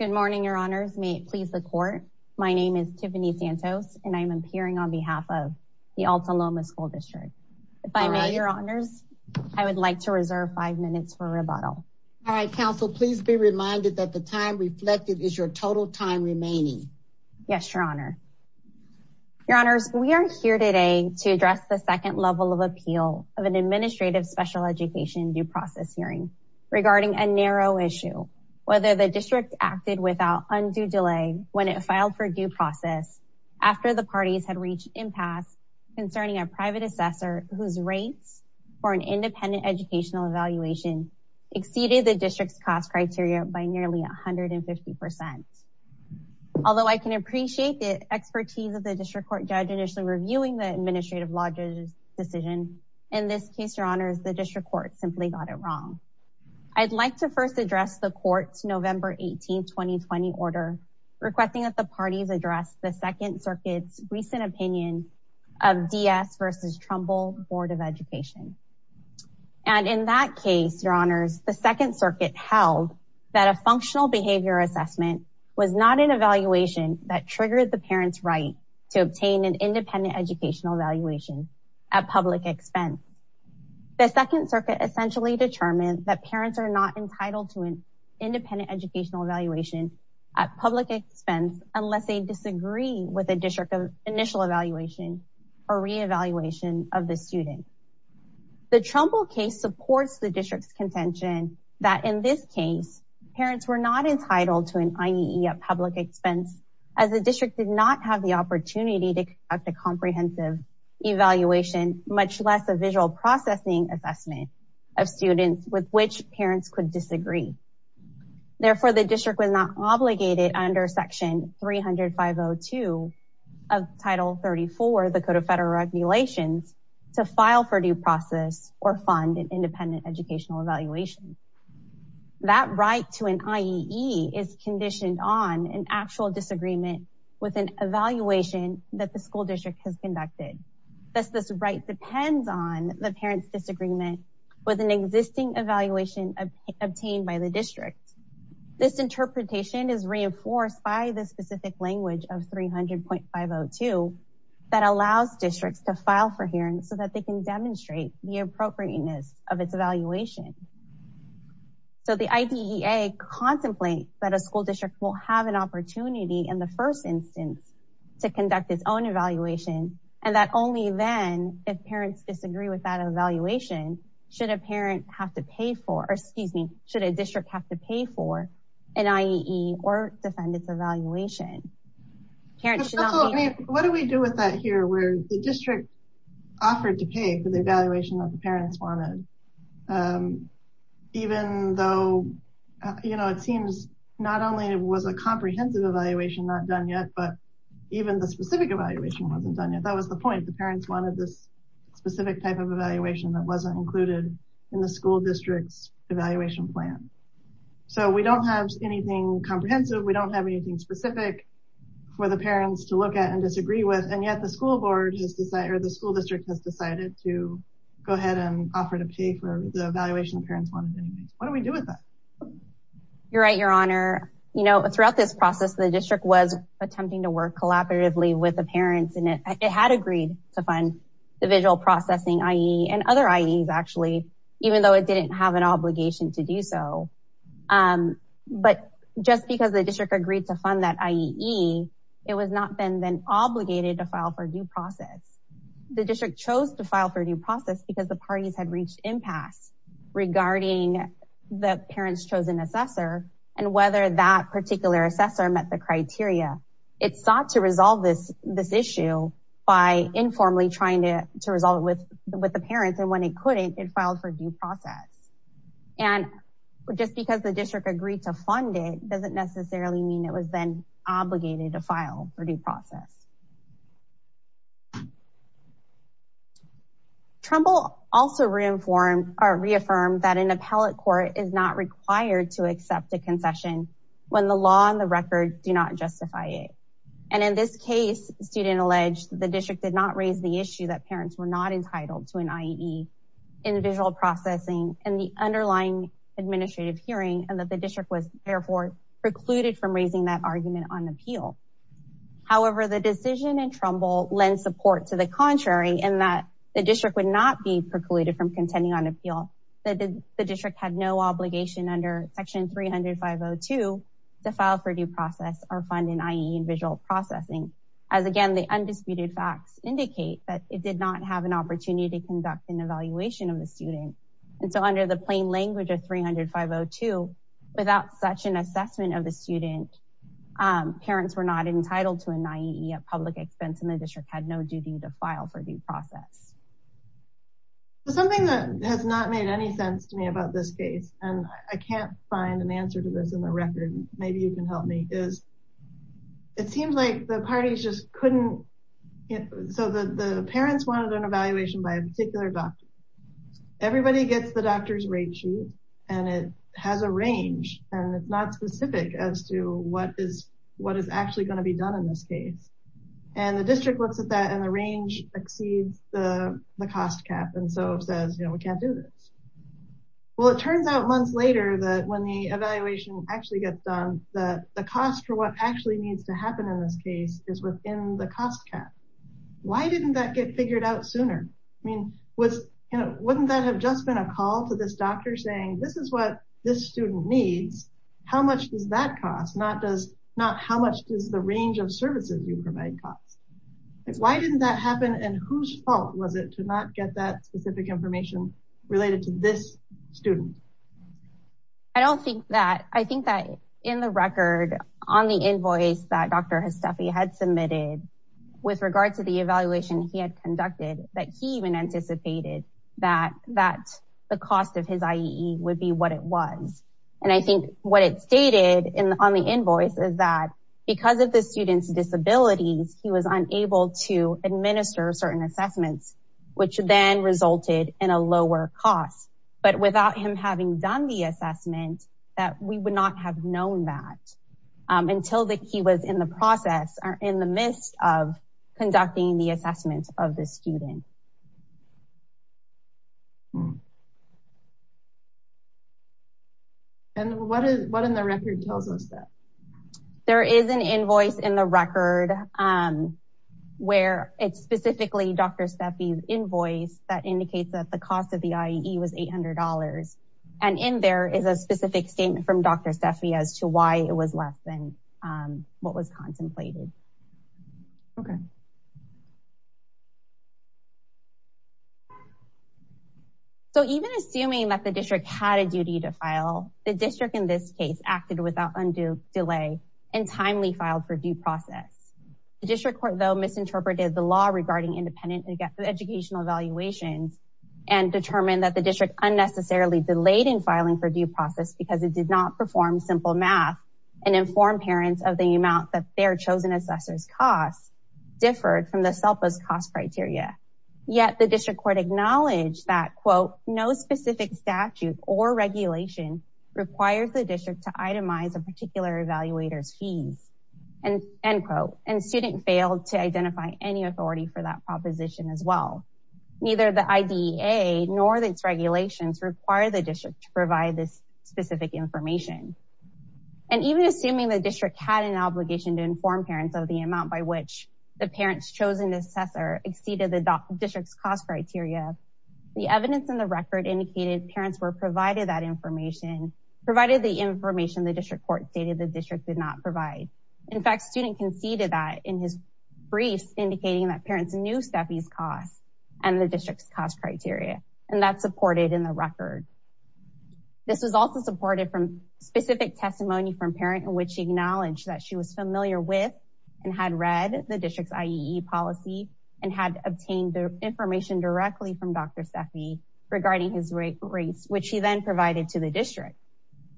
Good morning, your honors. May it please the court. My name is Tiffany Santos and I'm appearing on behalf of the Alta Loma School District. If I may, your honors, I would like to reserve five minutes for rebuttal. All right, counsel, please be reminded that the time reflected is your total time remaining. Yes, your honor. Your honors, we are here today to address the second level of appeal of an administrative special education due process hearing regarding a narrow issue, whether the district acted without undue delay when it filed for due process after the parties had reached impasse concerning a private assessor whose rates for an independent educational evaluation exceeded the district's cost criteria by nearly 150 percent. Although I can appreciate the expertise of the district court judge initially reviewing the administrative law judge's decision, in this case, your honors, the district court simply got it wrong. I'd like to first address the court's November 18, 2020 order requesting that the parties address the Second Circuit's recent opinion of D.S. v. Trumbull Board of Education. And in that case, your honors, the Second Circuit held that a functional behavior assessment was not an evaluation that triggered the parents' right to obtain an independent educational evaluation at public expense. The Second Circuit essentially determined that parents are not entitled to an independent educational evaluation at public expense unless they disagree with a district of initial evaluation or re-evaluation of the student. The Trumbull case supports the district's contention that in this case, parents were not entitled to an IEE at public expense as the district did not have the opportunity to conduct a comprehensive evaluation, much less a visual processing assessment of students with which parents could disagree. Therefore, the district was not obligated under Section 305.02 of Title 34, the Code of Federal Regulations, to file for due process or fund an independent educational evaluation. That right to an IEE is conditioned on an actual disagreement with an evaluation that the school district has conducted. Thus, this right depends on the parents' disagreement with an existing evaluation obtained by the district. This interpretation is reinforced by the specific language of 300.502 that allows districts to file for hearings so that they can demonstrate the contemplate that a school district will have an opportunity in the first instance to conduct its own evaluation, and that only then, if parents disagree with that evaluation, should a district have to pay for an IEE or defend its evaluation. What do we do with that here where the district offered to pay for the evaluation that the parents wanted, even though it seems not only was a comprehensive evaluation not done yet, but even the specific evaluation wasn't done yet? That was the point. The parents wanted this specific type of evaluation that wasn't included in the school district's evaluation plan. We don't have anything comprehensive. We don't have anything specific for the parents to look at to go ahead and offer to pay for the evaluation the parents wanted. What do we do with that? You're right, Your Honor. Throughout this process, the district was attempting to work collaboratively with the parents, and it had agreed to fund the Visual Processing IEE and other IEEs, even though it didn't have an obligation to do so. But just because the district agreed to fund that IEE, it was not then obligated to file for due process. The district chose to file for due process because the parties had reached impasse regarding the parents' chosen assessor and whether that particular assessor met the criteria. It sought to resolve this issue by informally trying to resolve it with the parents, and when it couldn't, it filed for due process. And just because the district agreed to fund it doesn't necessarily mean it was then obligated to file for due process. Trumbull also reaffirmed that an appellate court is not required to accept a concession when the law and the record do not justify it. And in this case, the student alleged the district did not raise the issue that the district was precluded from raising that argument on appeal. However, the decision in Trumbull lends support to the contrary in that the district would not be precluded from contending on appeal, that the district had no obligation under Section 305.02 to file for due process or fund an IEE in Visual Processing, as again, the undisputed facts indicate that it did not have an opportunity to conduct an evaluation of the district. And so under the plain language of 305.02, without such an assessment of the student, parents were not entitled to an IEE at public expense and the district had no duty to file for due process. Something that has not made any sense to me about this case, and I can't find an answer to this in the record, maybe you can help me, is it seems like the parties just couldn't So the parents wanted an evaluation by a particular doctor. Everybody gets the doctor's rate sheet, and it has a range, and it's not specific as to what is actually going to be done in this case. And the district looks at that and the range exceeds the cost cap. And so it says, you know, we can't do this. Well, it turns out months later that when the evaluation actually gets done, the cost for what actually needs to happen in this case is within the cost cap. Why didn't that get figured out sooner? I mean, wouldn't that have just been a call to this doctor saying this is what this student needs? How much does that cost? Not how much does the range of services you provide cost? Why didn't that happen? And whose fault was it to not get that specific information related to this student? I don't think that. I think that in the record on the invoice that Dr. Hastafi had submitted with regard to the evaluation he had conducted that he even anticipated that the cost of his IEE would be what it was. And I think what it stated on the invoice is that because of the student's disabilities, he was unable to administer certain having done the assessment that we would not have known that until that he was in the process or in the midst of conducting the assessment of the student. And what is what in the record tells us that there is an invoice in the record where it's specifically Dr. Hastafi's invoice that indicates that the cost of the IEE was $800. And in there is a specific statement from Dr. Hastafi as to why it was less than what was contemplated. So even assuming that the district had a duty to file, the district in this case acted without undue delay and determined that the district unnecessarily delayed in filing for due process because it did not perform simple math and inform parents of the amount that their chosen assessor's costs differed from the SELPA's cost criteria. Yet the district court acknowledged that, quote, no specific statute or regulation requires the district to itemize a particular evaluator's fees. And, end quote, and student failed to identify any authority for that proposition as well. Neither the IDEA nor its regulations require the district to provide this specific information. And even assuming the district had an obligation to inform parents of the amount by which the parents chosen assessor exceeded the district's cost criteria, the evidence in the record indicated parents were provided that information, provided the information the district court stated the district did not provide. In fact, student conceded that in his briefs, indicating that parents knew Steffi's cost and the district's cost criteria. And that's supported in the record. This was also supported from specific testimony from parent in which she acknowledged that she was familiar with and had read the district's IEE policy and had obtained information directly from Dr. Steffi regarding his rates, which she then provided to the district.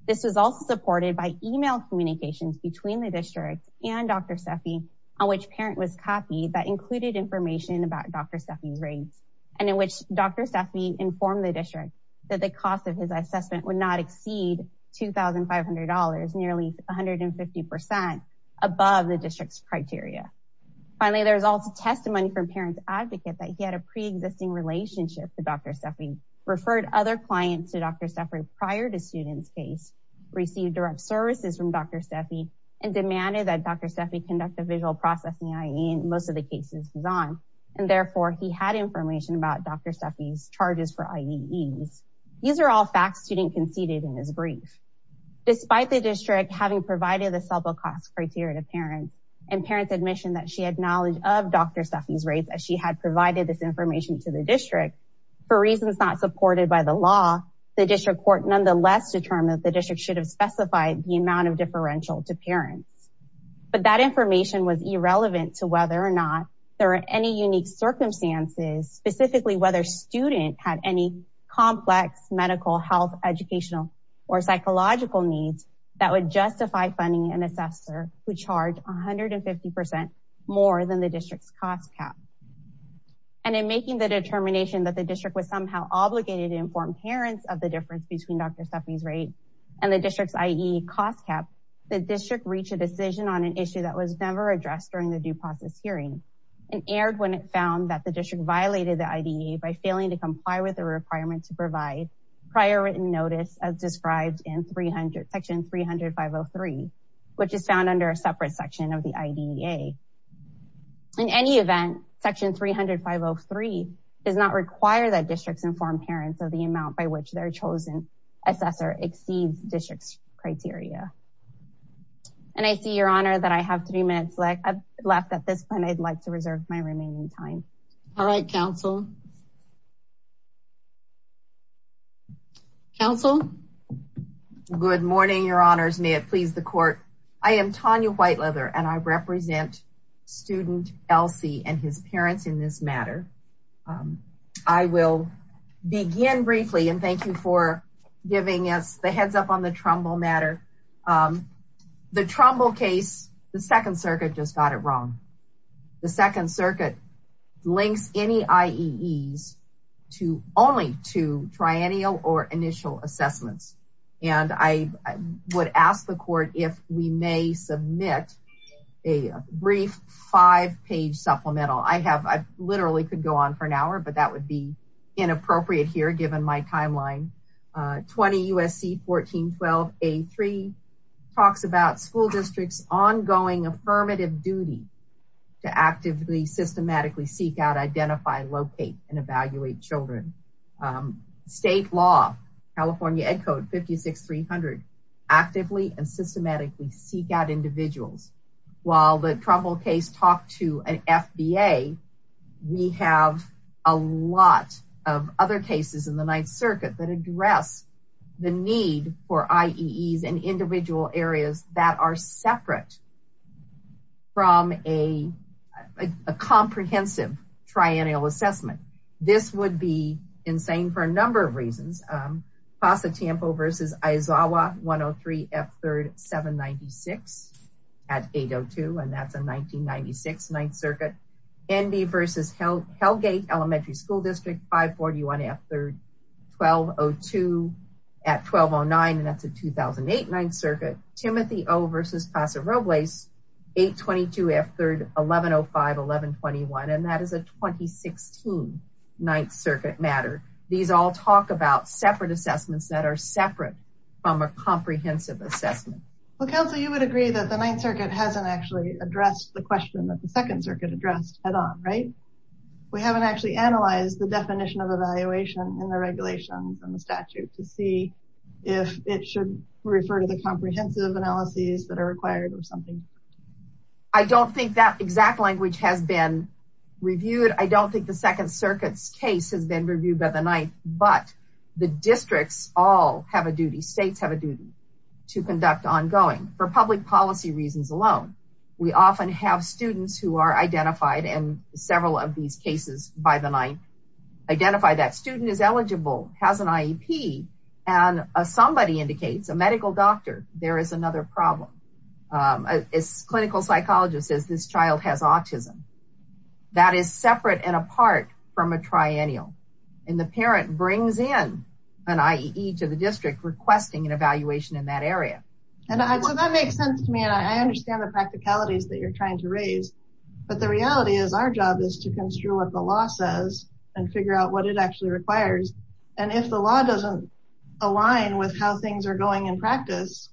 This was also supported by email communications between the district and Dr. Steffi on which parent was copied that included information about Dr. Steffi's rates and in which Dr. Steffi informed the district that the cost of his assessment would not exceed $2,500, nearly 150% above the district's criteria. Finally, there's also testimony from parents advocate that he had a pre-existing relationship to Dr. Steffi, referred other clients to Dr. Steffi prior to student's case, received direct services from Dr. Steffi and demanded that Dr. Steffi conduct a visual processing IE in most of the cases he's on and therefore he had information about Dr. Steffi's charges for IEEs. These are all facts student conceded in this brief. Despite the district having provided the self-accounts criteria to parents and parents admission that she had knowledge of Dr. Steffi's rates as she had provided this information to the district, for reasons not supported by the law, the district court nonetheless determined that the district should have specified the amount of differential to parents. But that information was irrelevant to whether or not there are any unique circumstances, specifically whether student had any complex medical, health, educational or psychological needs that would justify funding an assessor who charged 150% more than the district's cost cap. And in making the determination that the district was somehow obligated to inform parents of the difference between Dr. Steffi's rate and the district's IE cost cap, the district reached a decision on an issue that was never addressed during the due process hearing and aired when it found that the district violated the IDEA by failing to comply with the requirement to provide prior written notice as described in section 300503, which is found under a separate section of the IDEA. In any event, section 300503 does not require that districts inform parents of the amount by which their chosen assessor exceeds district's criteria. And I see, Your Honor, that I have three minutes left at this point. I'd like to reserve my remaining time. All right, counsel. Counsel. Good morning, Your Honors. May it please the court. I am Tanya Whiteleather and I represent student Elsie and his parents in this matter. I will begin briefly and thank you for giving us the heads up on the Trumbull matter. The Trumbull case, the Second Circuit just got it wrong. The Second Circuit links any IEEs to only to triennial or initial assessments. And I would ask the court if we may submit a brief five page supplemental. I have I literally could go on for an hour, but that would be inappropriate here given my timeline. 20 U.S.C. 1412 A3 talks about school districts ongoing affirmative duty to actively systematically seek out, identify, locate and evaluate children. State law, California Ed Code 56300 actively and systematically seek out individuals. While the Trumbull case talked to an FBA, we have a lot of other cases in the Ninth Circuit that address the need for IEEs and individual areas that are separate from a comprehensive triennial assessment. This would be for a number of reasons. Pasa Tampo versus Isawa 103 F3rd 796 at 802 and that's a 1996 Ninth Circuit. NB versus Hellgate Elementary School District 541 F3rd 1202 at 1209 and that's a 2008 Ninth Circuit. Timothy O versus Pasa Robles 822 F3rd 1105 1121 and that is a 2016 Ninth Circuit matter. These all talk about separate assessments that are separate from a comprehensive assessment. Well, Council, you would agree that the Ninth Circuit hasn't actually addressed the question that the Second Circuit addressed head on, right? We haven't actually analyzed the definition of evaluation in the regulations and the statute to see if it should refer to comprehensive analyses that are required or something. I don't think that exact language has been reviewed. I don't think the Second Circuit's case has been reviewed by the Ninth, but the districts all have a duty, states have a duty to conduct ongoing for public policy reasons alone. We often have students who are identified in several of these cases by the Ninth, identify that student is eligible, has an IEP and somebody indicates, a medical doctor, there is another problem. A clinical psychologist says this child has autism. That is separate and apart from a triennial and the parent brings in an IEE to the district requesting an evaluation in that area. And so that makes sense to me and I understand the practicalities that you're trying to raise, but the reality is our job is to construe what the law says and figure out what it actually requires. And if the law doesn't align with how things are going in practice,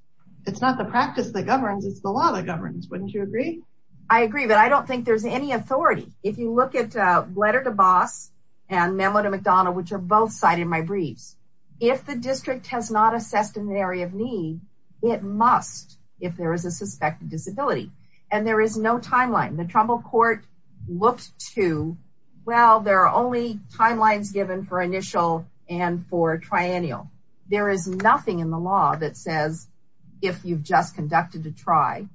it's not the practice that governs, it's the law that governs. Wouldn't you agree? I agree, but I don't think there's any authority. If you look at Letter to Boss and Memo to McDonnell, which are both cited in my briefs, if the district has not assessed an area of need, it looks to, well, there are only timelines given for initial and for triennial. There is nothing in the law that says if you've just conducted a try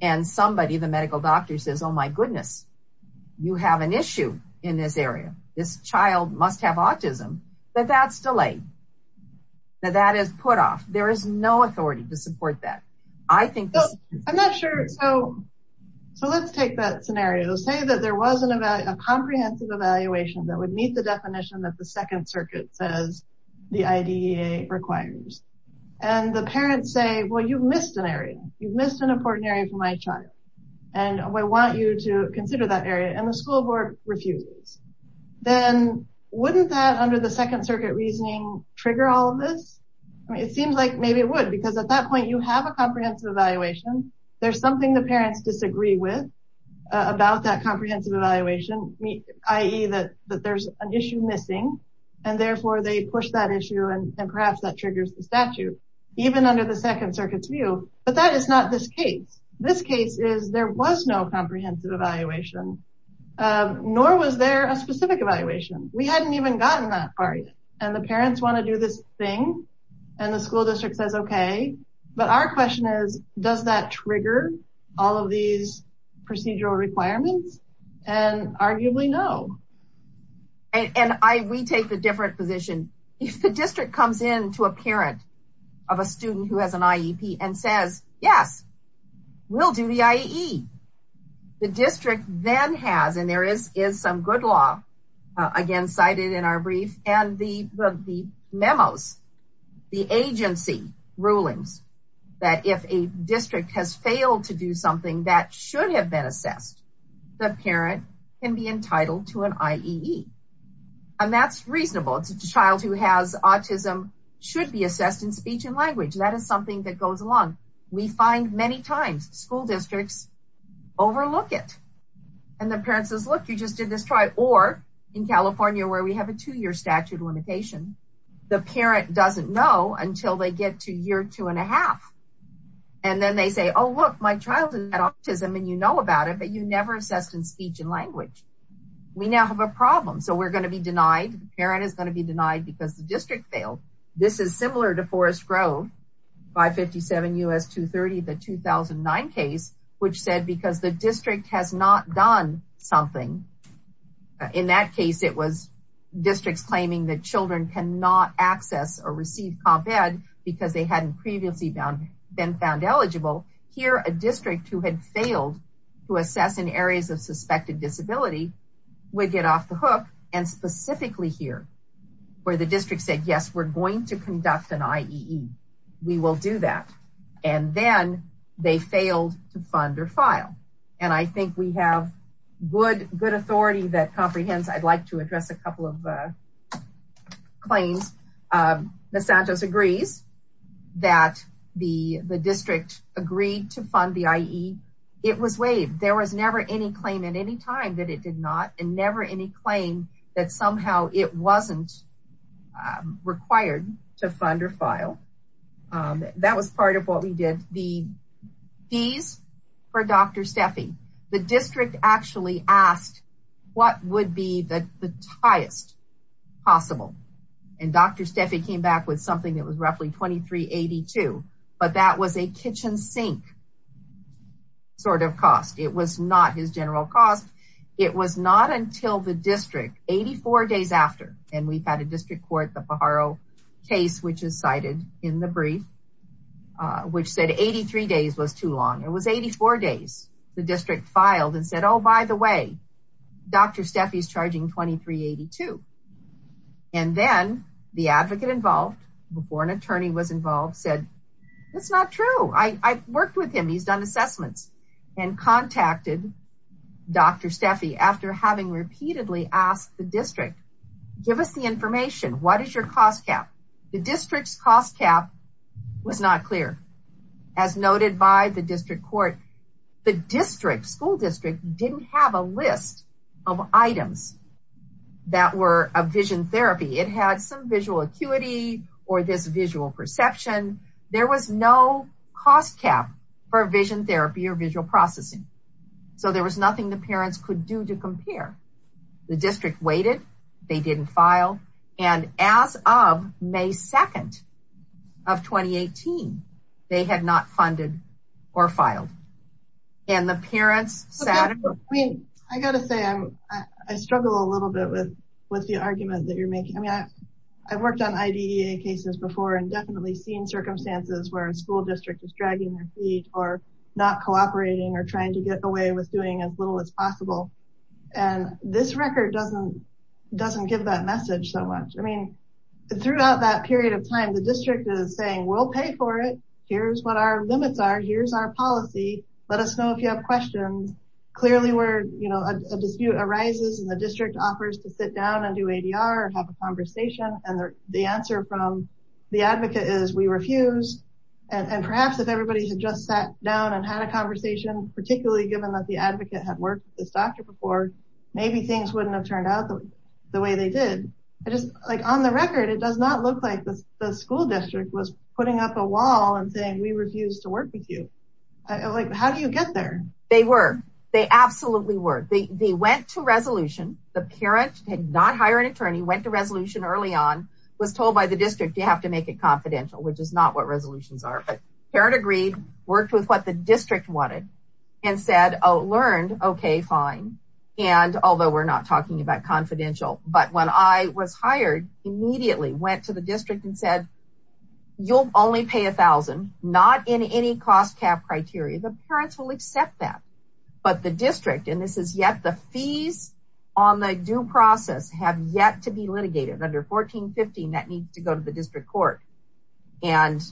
and somebody, the medical doctor says, oh my goodness, you have an issue in this area. This child must have autism, but that's delayed. That is put off. There is no authority to support that. I'm not sure. So let's take that scenario. Say that there was a comprehensive evaluation that would meet the definition that the Second Circuit says the IDEA requires. And the parents say, well, you've missed an area. You've missed an important area for my child. And we want you to consider that area. And the school board refuses. Then wouldn't that under the Second Circuit reasoning trigger all of this? It seems like maybe it would, because at that point you have a comprehensive evaluation. There's something the parents disagree with about that comprehensive evaluation, i.e., that there's an issue missing, and therefore they push that issue and perhaps that triggers the statute, even under the Second Circuit's view. But that is not this case. This case is there was no comprehensive evaluation, nor was there a specific evaluation. We hadn't even gotten that far yet. And the parents want to do this thing, and the school district says, OK. But our question is, does that trigger all of these procedural requirements? And arguably, no. And we take the different position. If the district comes in to a parent of a student who has an IEP and says, yes, we'll do the IEE, the district then has, and there is some good law again cited in our brief, and the memos, the agency rulings, that if a district has failed to do something that should have been assessed, the parent can be entitled to an IEE. And that's reasonable. A child who has autism should be assessed in speech and language. That is something that goes along. We find many times school districts overlook it. And the parent says, look, you just did this try. Or in California, where we have a two-year statute limitation, the parent doesn't know until they get to year two and a half. And then they say, oh, look, my child has autism, and you know about it, but you never assessed in speech and language. We now have a problem. So we're going to be denied. The parent is going to be denied because the district failed. This is similar to Forest Grove, 557 U.S. 230, the 2009 case, which said because the district has not done something. In that case, it was districts claiming that children cannot access or receive comp ed because they hadn't previously been found eligible. Here, a district who had failed to assess in areas of suspected disability would get off the hook. And specifically here, where the district said, yes, we're going to conduct an IEE. We will do that. And then they failed to fund or file. And I think we have good authority that comprehends. I'd like to address a couple of claims. Ms. Santos agrees that the district agreed to fund the IEE. It was waived. There was never any claim at any time that it did not and never any claim that somehow it wasn't required to fund or file. That was part of what we did. The fees for Dr. Steffi, the district actually asked what would be the highest possible. And Dr. Steffi came back with something that was roughly 2382, but that was a kitchen sink sort of cost. It was not his general cost. It was not until the district, 84 days after, and we've had a district court, the Pajaro case, which is cited in the brief, which said 83 days was too long. It was 84 days. The district filed and said, oh, by the way, Dr. Steffi is charging 2382. And then the advocate involved before an attorney was involved said, that's not true. I worked with him. He's done assessments and contacted Dr. Steffi after having repeatedly asked the district, give us the information. What is your cost cap? The district's cost cap was not clear. As noted by the district court, the district school district didn't have a list of items that were a vision therapy. It had some visual acuity or this visual perception. There was no cost cap for vision therapy or visual processing. So there was nothing the parents could do to compare. The district waited, they didn't file. And as of May 2nd of 2018, they had not funded or filed and the parents sat. I gotta say, I struggle a little bit with the argument that you're making. I mean, I've worked on IDEA cases before and definitely seen circumstances where a school district is dragging their feet or not cooperating or trying to get away with doing as little as possible. And this record doesn't, doesn't give that message so much. I mean, throughout that period of time, the district is saying, we'll pay for it. Here's what our limits are. Here's our policy. Let us know if you have questions clearly where, you know, a dispute arises and the district offers to sit down and do ADR and have a conversation. And the answer from the advocate is we refuse. And perhaps if everybody had just sat down and had a conversation, particularly given that the advocate had worked with this doctor before, maybe things wouldn't have turned out the way they did. I just like on the record, it does not look like the school district was putting up a wall and saying we refuse to work with you. Like, how do you get there? They were, they absolutely were. They, they went to resolution. The parent had not hired an attorney, went to resolution early on, was told by the district, you have to make it confidential, which is not what resolutions are, but parent agreed, worked with what the district wanted and said, Oh, learned. Okay, fine. And although we're not talking about confidential, but when I was hired immediately went to the district and said, You'll only pay a thousand, not in any cost cap criteria. The parents will accept that, but the district, and this is yet the fees on the due process have yet to be litigated under 1415 that needs to go to the district court. And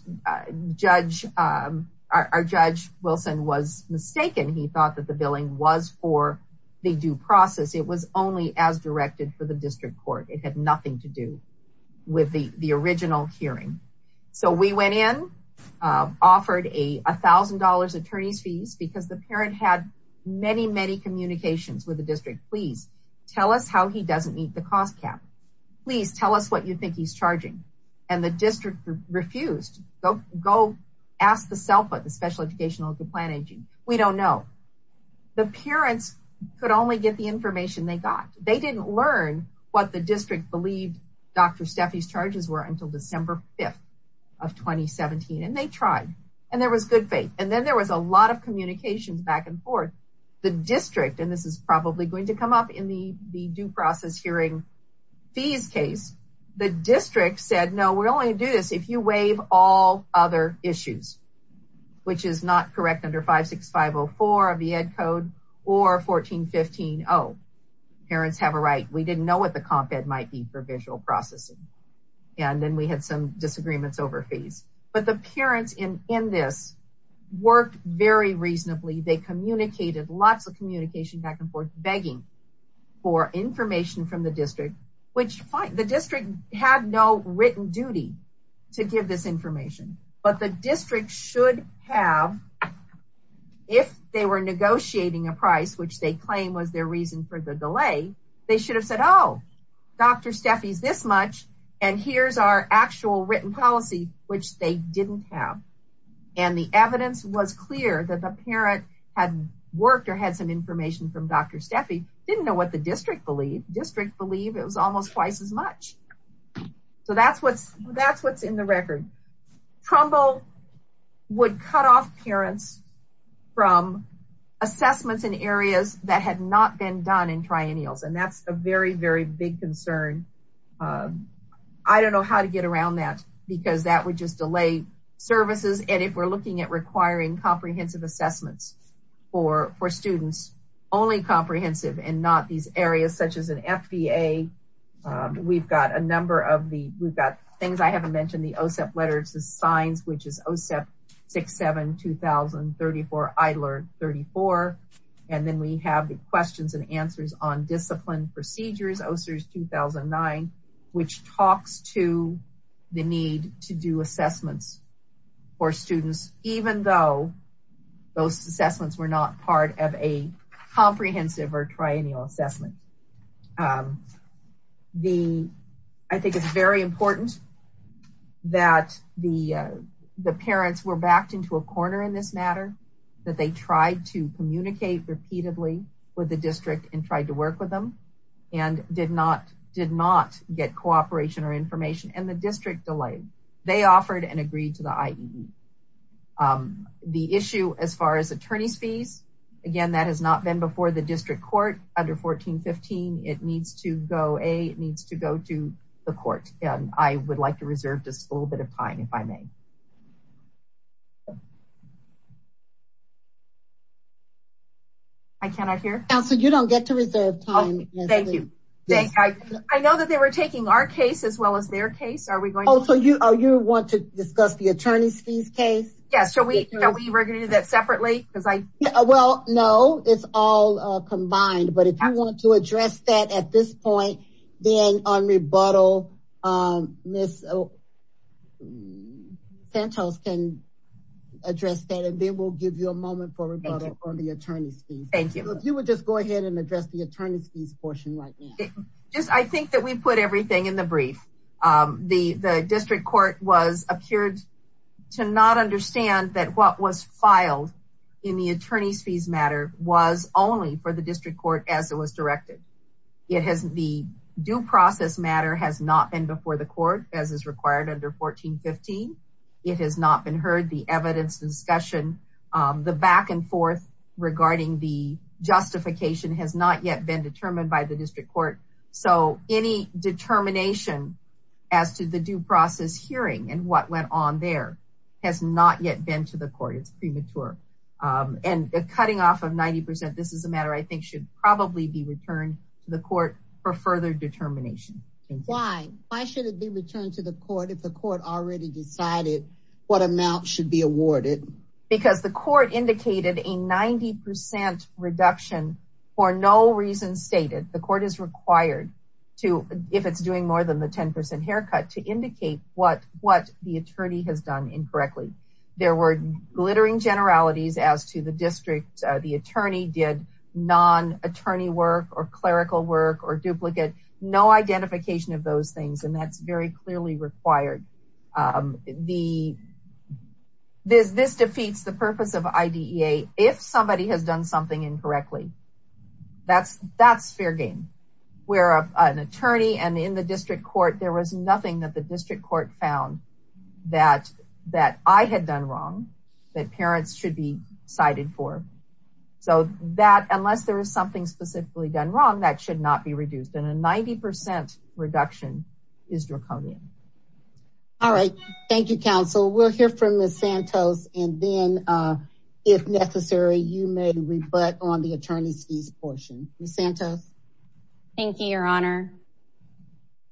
judge our judge Wilson was mistaken. He thought that the billing was for the due process. It was only as directed for the district court. It had nothing to do with the, the original hearing. So we went in, offered a thousand dollars attorney's fees because the parent had many, many communications with the district. Please tell us how he doesn't meet the cost cap. Please tell us what you think he's charging. And the district refused. Go go ask the self of the special educational plan. We don't know the parents could only get the information they got. They didn't learn what the district believed. Dr. Stephanie's charges were until December 5th. Of 2017. And they tried and there was good faith. And then there was a lot of communications back and forth. The district, and this is probably going to come up in the, the due process hearing. These case, the district said, no, we're only do this. If you wave all other issues. Which is not correct under five, six, five, Or 1415. Oh, Parents have a right. We didn't know what the comp ed might be for visual processing. And then we had some disagreements over fees, but the parents in, in this. Worked very reasonably. They communicated lots of communication back and forth, begging. For information from the district, which the district had no written duty. To give this information, but the district should have. If they were negotiating a price, which they claim was their reason for the delay, they should have said, oh, Dr. Stephanie's this much. And here's our actual written policy, which they didn't have. And the evidence was clear that the parent had worked or had some information from Dr. Stephanie. Didn't know what the district believe district believe it was almost twice as much. So that's what's that's what's in the record. Okay. So. Trumbull. Would cut off parents. From. Assessments in areas that had not been done in triennials. And that's a very, very big concern. I don't know how to get around that because that would just delay. Services. And if we're looking at requiring comprehensive assessments. Or for students. We're looking at. Only comprehensive and not these areas such as an FBA. We've got a number of the things I haven't mentioned the OSEP letters, the signs, which is OSEP. Six, seven, 2000, 34. I learned 34. And then we have the questions and answers on discipline procedures. 2009. Which talks to the need to do assessments. For students, even though. Those assessments were not part of a comprehensive or triennial assessment. The. I think it's very important. That the, the parents were backed into a corner in this matter. That they tried to communicate repeatedly with the district and tried to work with them. And did not, did not get cooperation or information and the district delay. They offered and agreed to the IE. The issue as far as attorneys fees. Again, that has not been before the district court under 1415. It needs to go a, it needs to go to the court. I would like to reserve this a little bit of time. If I may. I cannot hear. So you don't get to reserve time. Thank you. I know that they were taking our case as well as their case. Are we going to discuss the attorney's fees case? Yes. So we were going to do that separately. Cause I, well, no, it's all combined, but if you want to address that at this point, then on rebuttal. Ms. Santos can address that. And then we'll give you a moment for the attorney's fees. Thank you. If you would just go ahead and address the attorney's fees portion, like. Just, I think that we put everything in the brief. The, the district court was appeared to not understand that what was filed. In the attorney's fees matter was only for the district court as it was directed. It hasn't the due process matter has not been before the court as is required under 1415. It has not been heard the evidence discussion, the back and forth. Regarding the justification has not yet been determined by the district court. So any determination as to the due process hearing and what went on there. Has not yet been to the court. It's premature. And cutting off of 90%. This is a matter I think should probably be returned to the court for further determination. Why should it be returned to the court? If the court already decided what amount should be awarded. Because the court indicated a 90% reduction. For no reason stated. The court is required to, if it's doing more than the 10% haircut to indicate what, what the attorney has done incorrectly. There were glittering generalities as to the district. The attorney did non attorney work or clerical work or duplicate. No identification of those things. And that's very clearly required. The. This, this defeats the purpose of IDEA. If somebody has done something incorrectly. That's that's fair game. We're an attorney and in the district court, there was nothing that the district court found. That that I had done wrong. That parents should be cited for. So that, unless there is something specifically done wrong, that should not be reduced in a 90% reduction. Is draconian. All right. Thank you. Thank you, counsel. We'll hear from the Santos. And then if necessary, you may rebut on the attorney's fees portion. Santa. Thank you, your honor.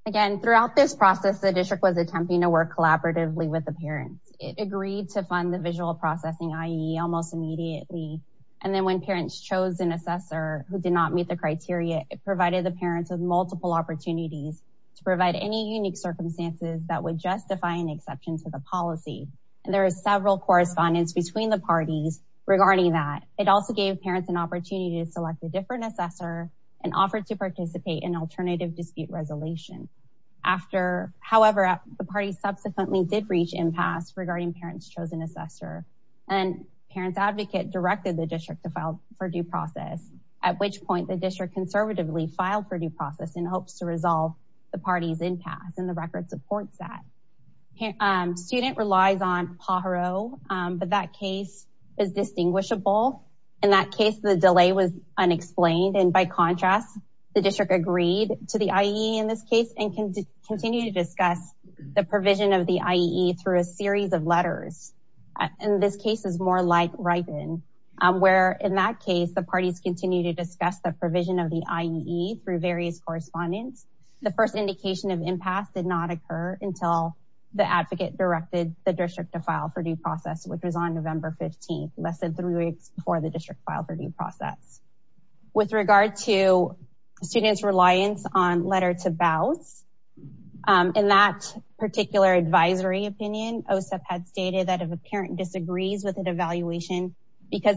Again, throughout this process, the district was attempting to work collaboratively with the parents. It agreed to fund the visual processing. Almost immediately. And then when parents chose an assessor who did not meet the criteria, It provided the parents with multiple opportunities. To provide any unique circumstances that would justify an exception to the policy. And there are several correspondence between the parties regarding that. It also gave parents an opportunity to select a different assessor. And offered to participate in alternative dispute resolution. After however, the party subsequently did reach impasse regarding parents chosen assessor. And parents advocate directed the district to file for due process. At which point the district conservatively filed for due process in hopes to resolve. The party's impasse and the record supports that. Student relies on Pajaro. But that case is distinguishable. In that case, the delay was unexplained. And by contrast, the district agreed to the IE in this case and can continue to discuss the provision of the IE through a series of letters. And this case is more like right in where, in that case, the parties continue to discuss the provision of the IE through various correspondence. The first indication of impasse did not occur until the advocate directed the district to file for due process, which was on November 15th, less than three weeks before the district filed for due process. With regard to students reliance on letter to bow. In that particular advisory opinion, OSIP had stated that if a parent disagrees with an evaluation because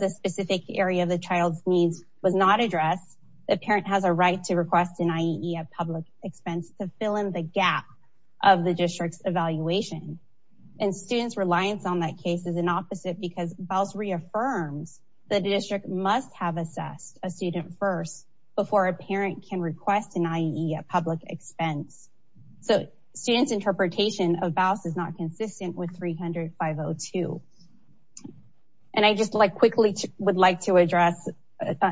a parent has a right to request an IE at public expense to fill in the gap of the district's evaluation. And students reliance on that case is an opposite because bows reaffirms that the district must have assessed a student first before a parent can request an IE at public expense. So students interpretation of bows is not consistent with 300 502. And I just like quickly would like to address.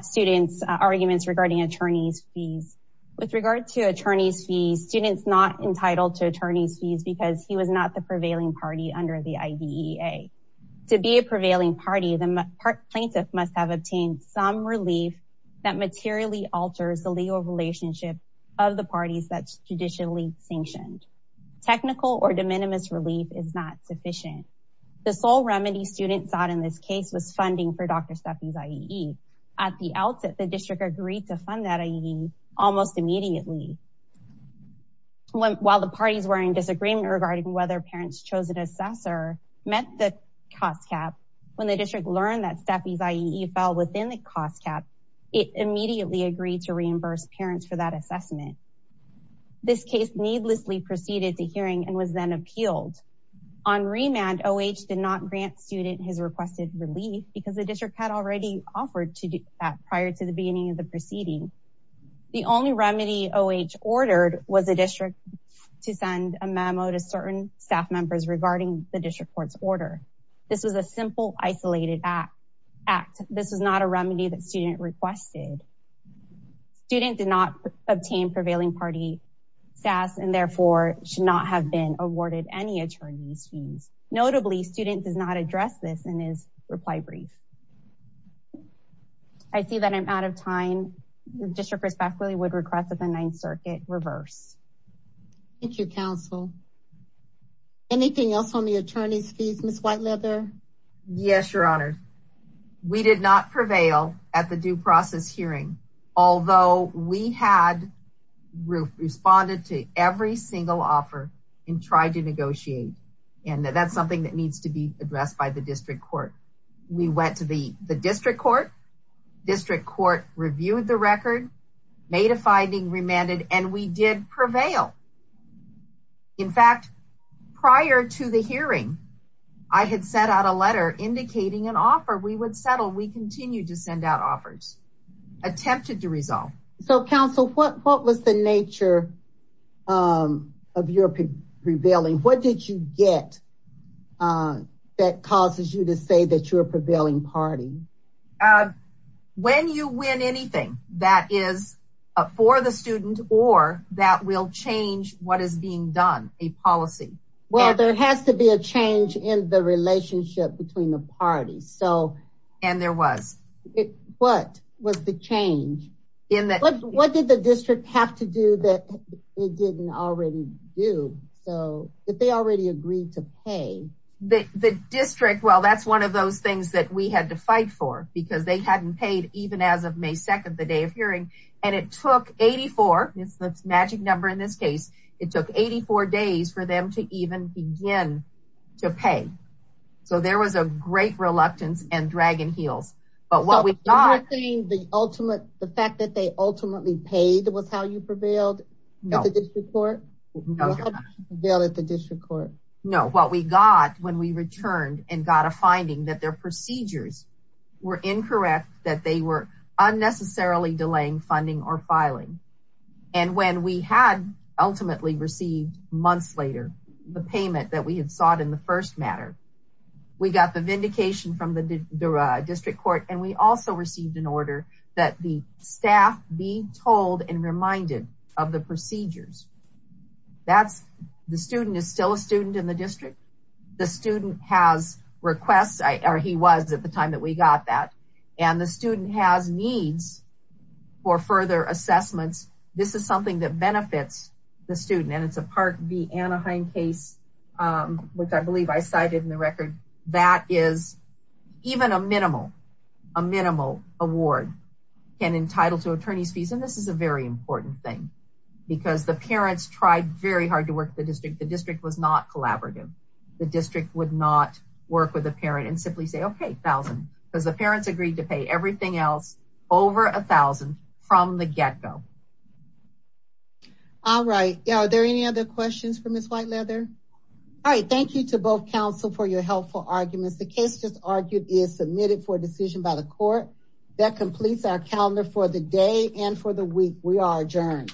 Students arguments regarding attorney's fees. With regard to attorney's fees, students not entitled to attorney's fees because he was not the prevailing party under the IDEA. To be a prevailing party, the plaintiff must have obtained some relief that materially alters the legal relationship. Of the parties that's traditionally sanctioned. Technical or de minimis relief is not sufficient. The sole remedy students thought in this case was funding for Dr. Stephanie's IE. At the outset, the district agreed to fund that IE almost immediately. While the parties were in disagreement regarding whether parents chose an assessor. Met the cost cap. When the district learned that Stephanie's IE fell within the cost cap, it immediately agreed to reimburse parents for that assessment. This case needlessly proceeded to hearing and was then appealed. On remand, OH did not grant student his requested relief because the district had already offered to do that prior to the beginning of the proceeding. The only remedy OH ordered was a district. To send a memo to certain staff members regarding the district court's order. This was a simple isolated act. Act. This was not a remedy that student requested. Student did not obtain prevailing party. Staff and therefore should not have been awarded any attorney's fees. Notably student does not address this in his reply brief. I see that I'm out of time. District respectfully would request that the ninth circuit reverse. Thank you. Counsel. Anything else on the attorney's fees, Ms. White leather. Yes, your honor. We did not prevail at the due process hearing. Although we had. Responded to every single offer. And tried to negotiate. And that's something that needs to be addressed by the district court. We went to the district court. District court reviewed the record. Made a finding remanded and we did prevail. In fact, Prior to the hearing. I had sent out a letter indicating an offer. We would settle. We continue to send out offers. We have not. Attempted to resolve. So council, what, what was the nature? Of your prevailing. What did you get? That causes you to say that you're a prevailing party. When you win anything that is. For the student or that will change what is being done. A policy. Well, there has to be a change in the relationship between the parties. And there was. What was the change? In that. What did the district have to do that? It didn't already do so. If they already agreed to pay. The district. Well, that's one of those things that we had to fight for. Because they hadn't paid even as of may 2nd, the day of hearing. And it took 84. It's the magic number in this case. It took 84 days for them to even begin. To pay. So there was a great reluctance and dragon heels. But what we thought. The ultimate, the fact that they ultimately paid. It was how you prevailed. No. They'll at the district court. No, what we got when we returned and got a finding that their procedures. We're incorrect that they were unnecessarily delaying funding or filing. And when we had ultimately received months later, The payment that we had sought in the first matter. We got the vindication from the district court. And we also received an order that the staff be told and reminded of the procedures. That's the student is still a student in the district. The student has requests. Or he was at the time that we got that. And the student has needs. For further assessments. This is something that benefits. The student and it's a part of the Anaheim case. Which I believe I cited in the record. That is. Even a minimal. A minimal award. And entitled to attorney's fees. And this is a very important thing. Because the parents tried very hard to work the district. The district was not collaborative. The district would not work with a parent and simply say, okay, thousand. Because the parents agreed to pay everything else. The district would not work with a parent and simply say, okay, Because the parents agreed to pay everything else. Over a thousand from the get-go. All right. Are there any other questions from this white leather? All right. Thank you to both council for your helpful arguments. The case just argued is submitted for decision by the court. That completes our calendar for the day. And for the week we are adjourned.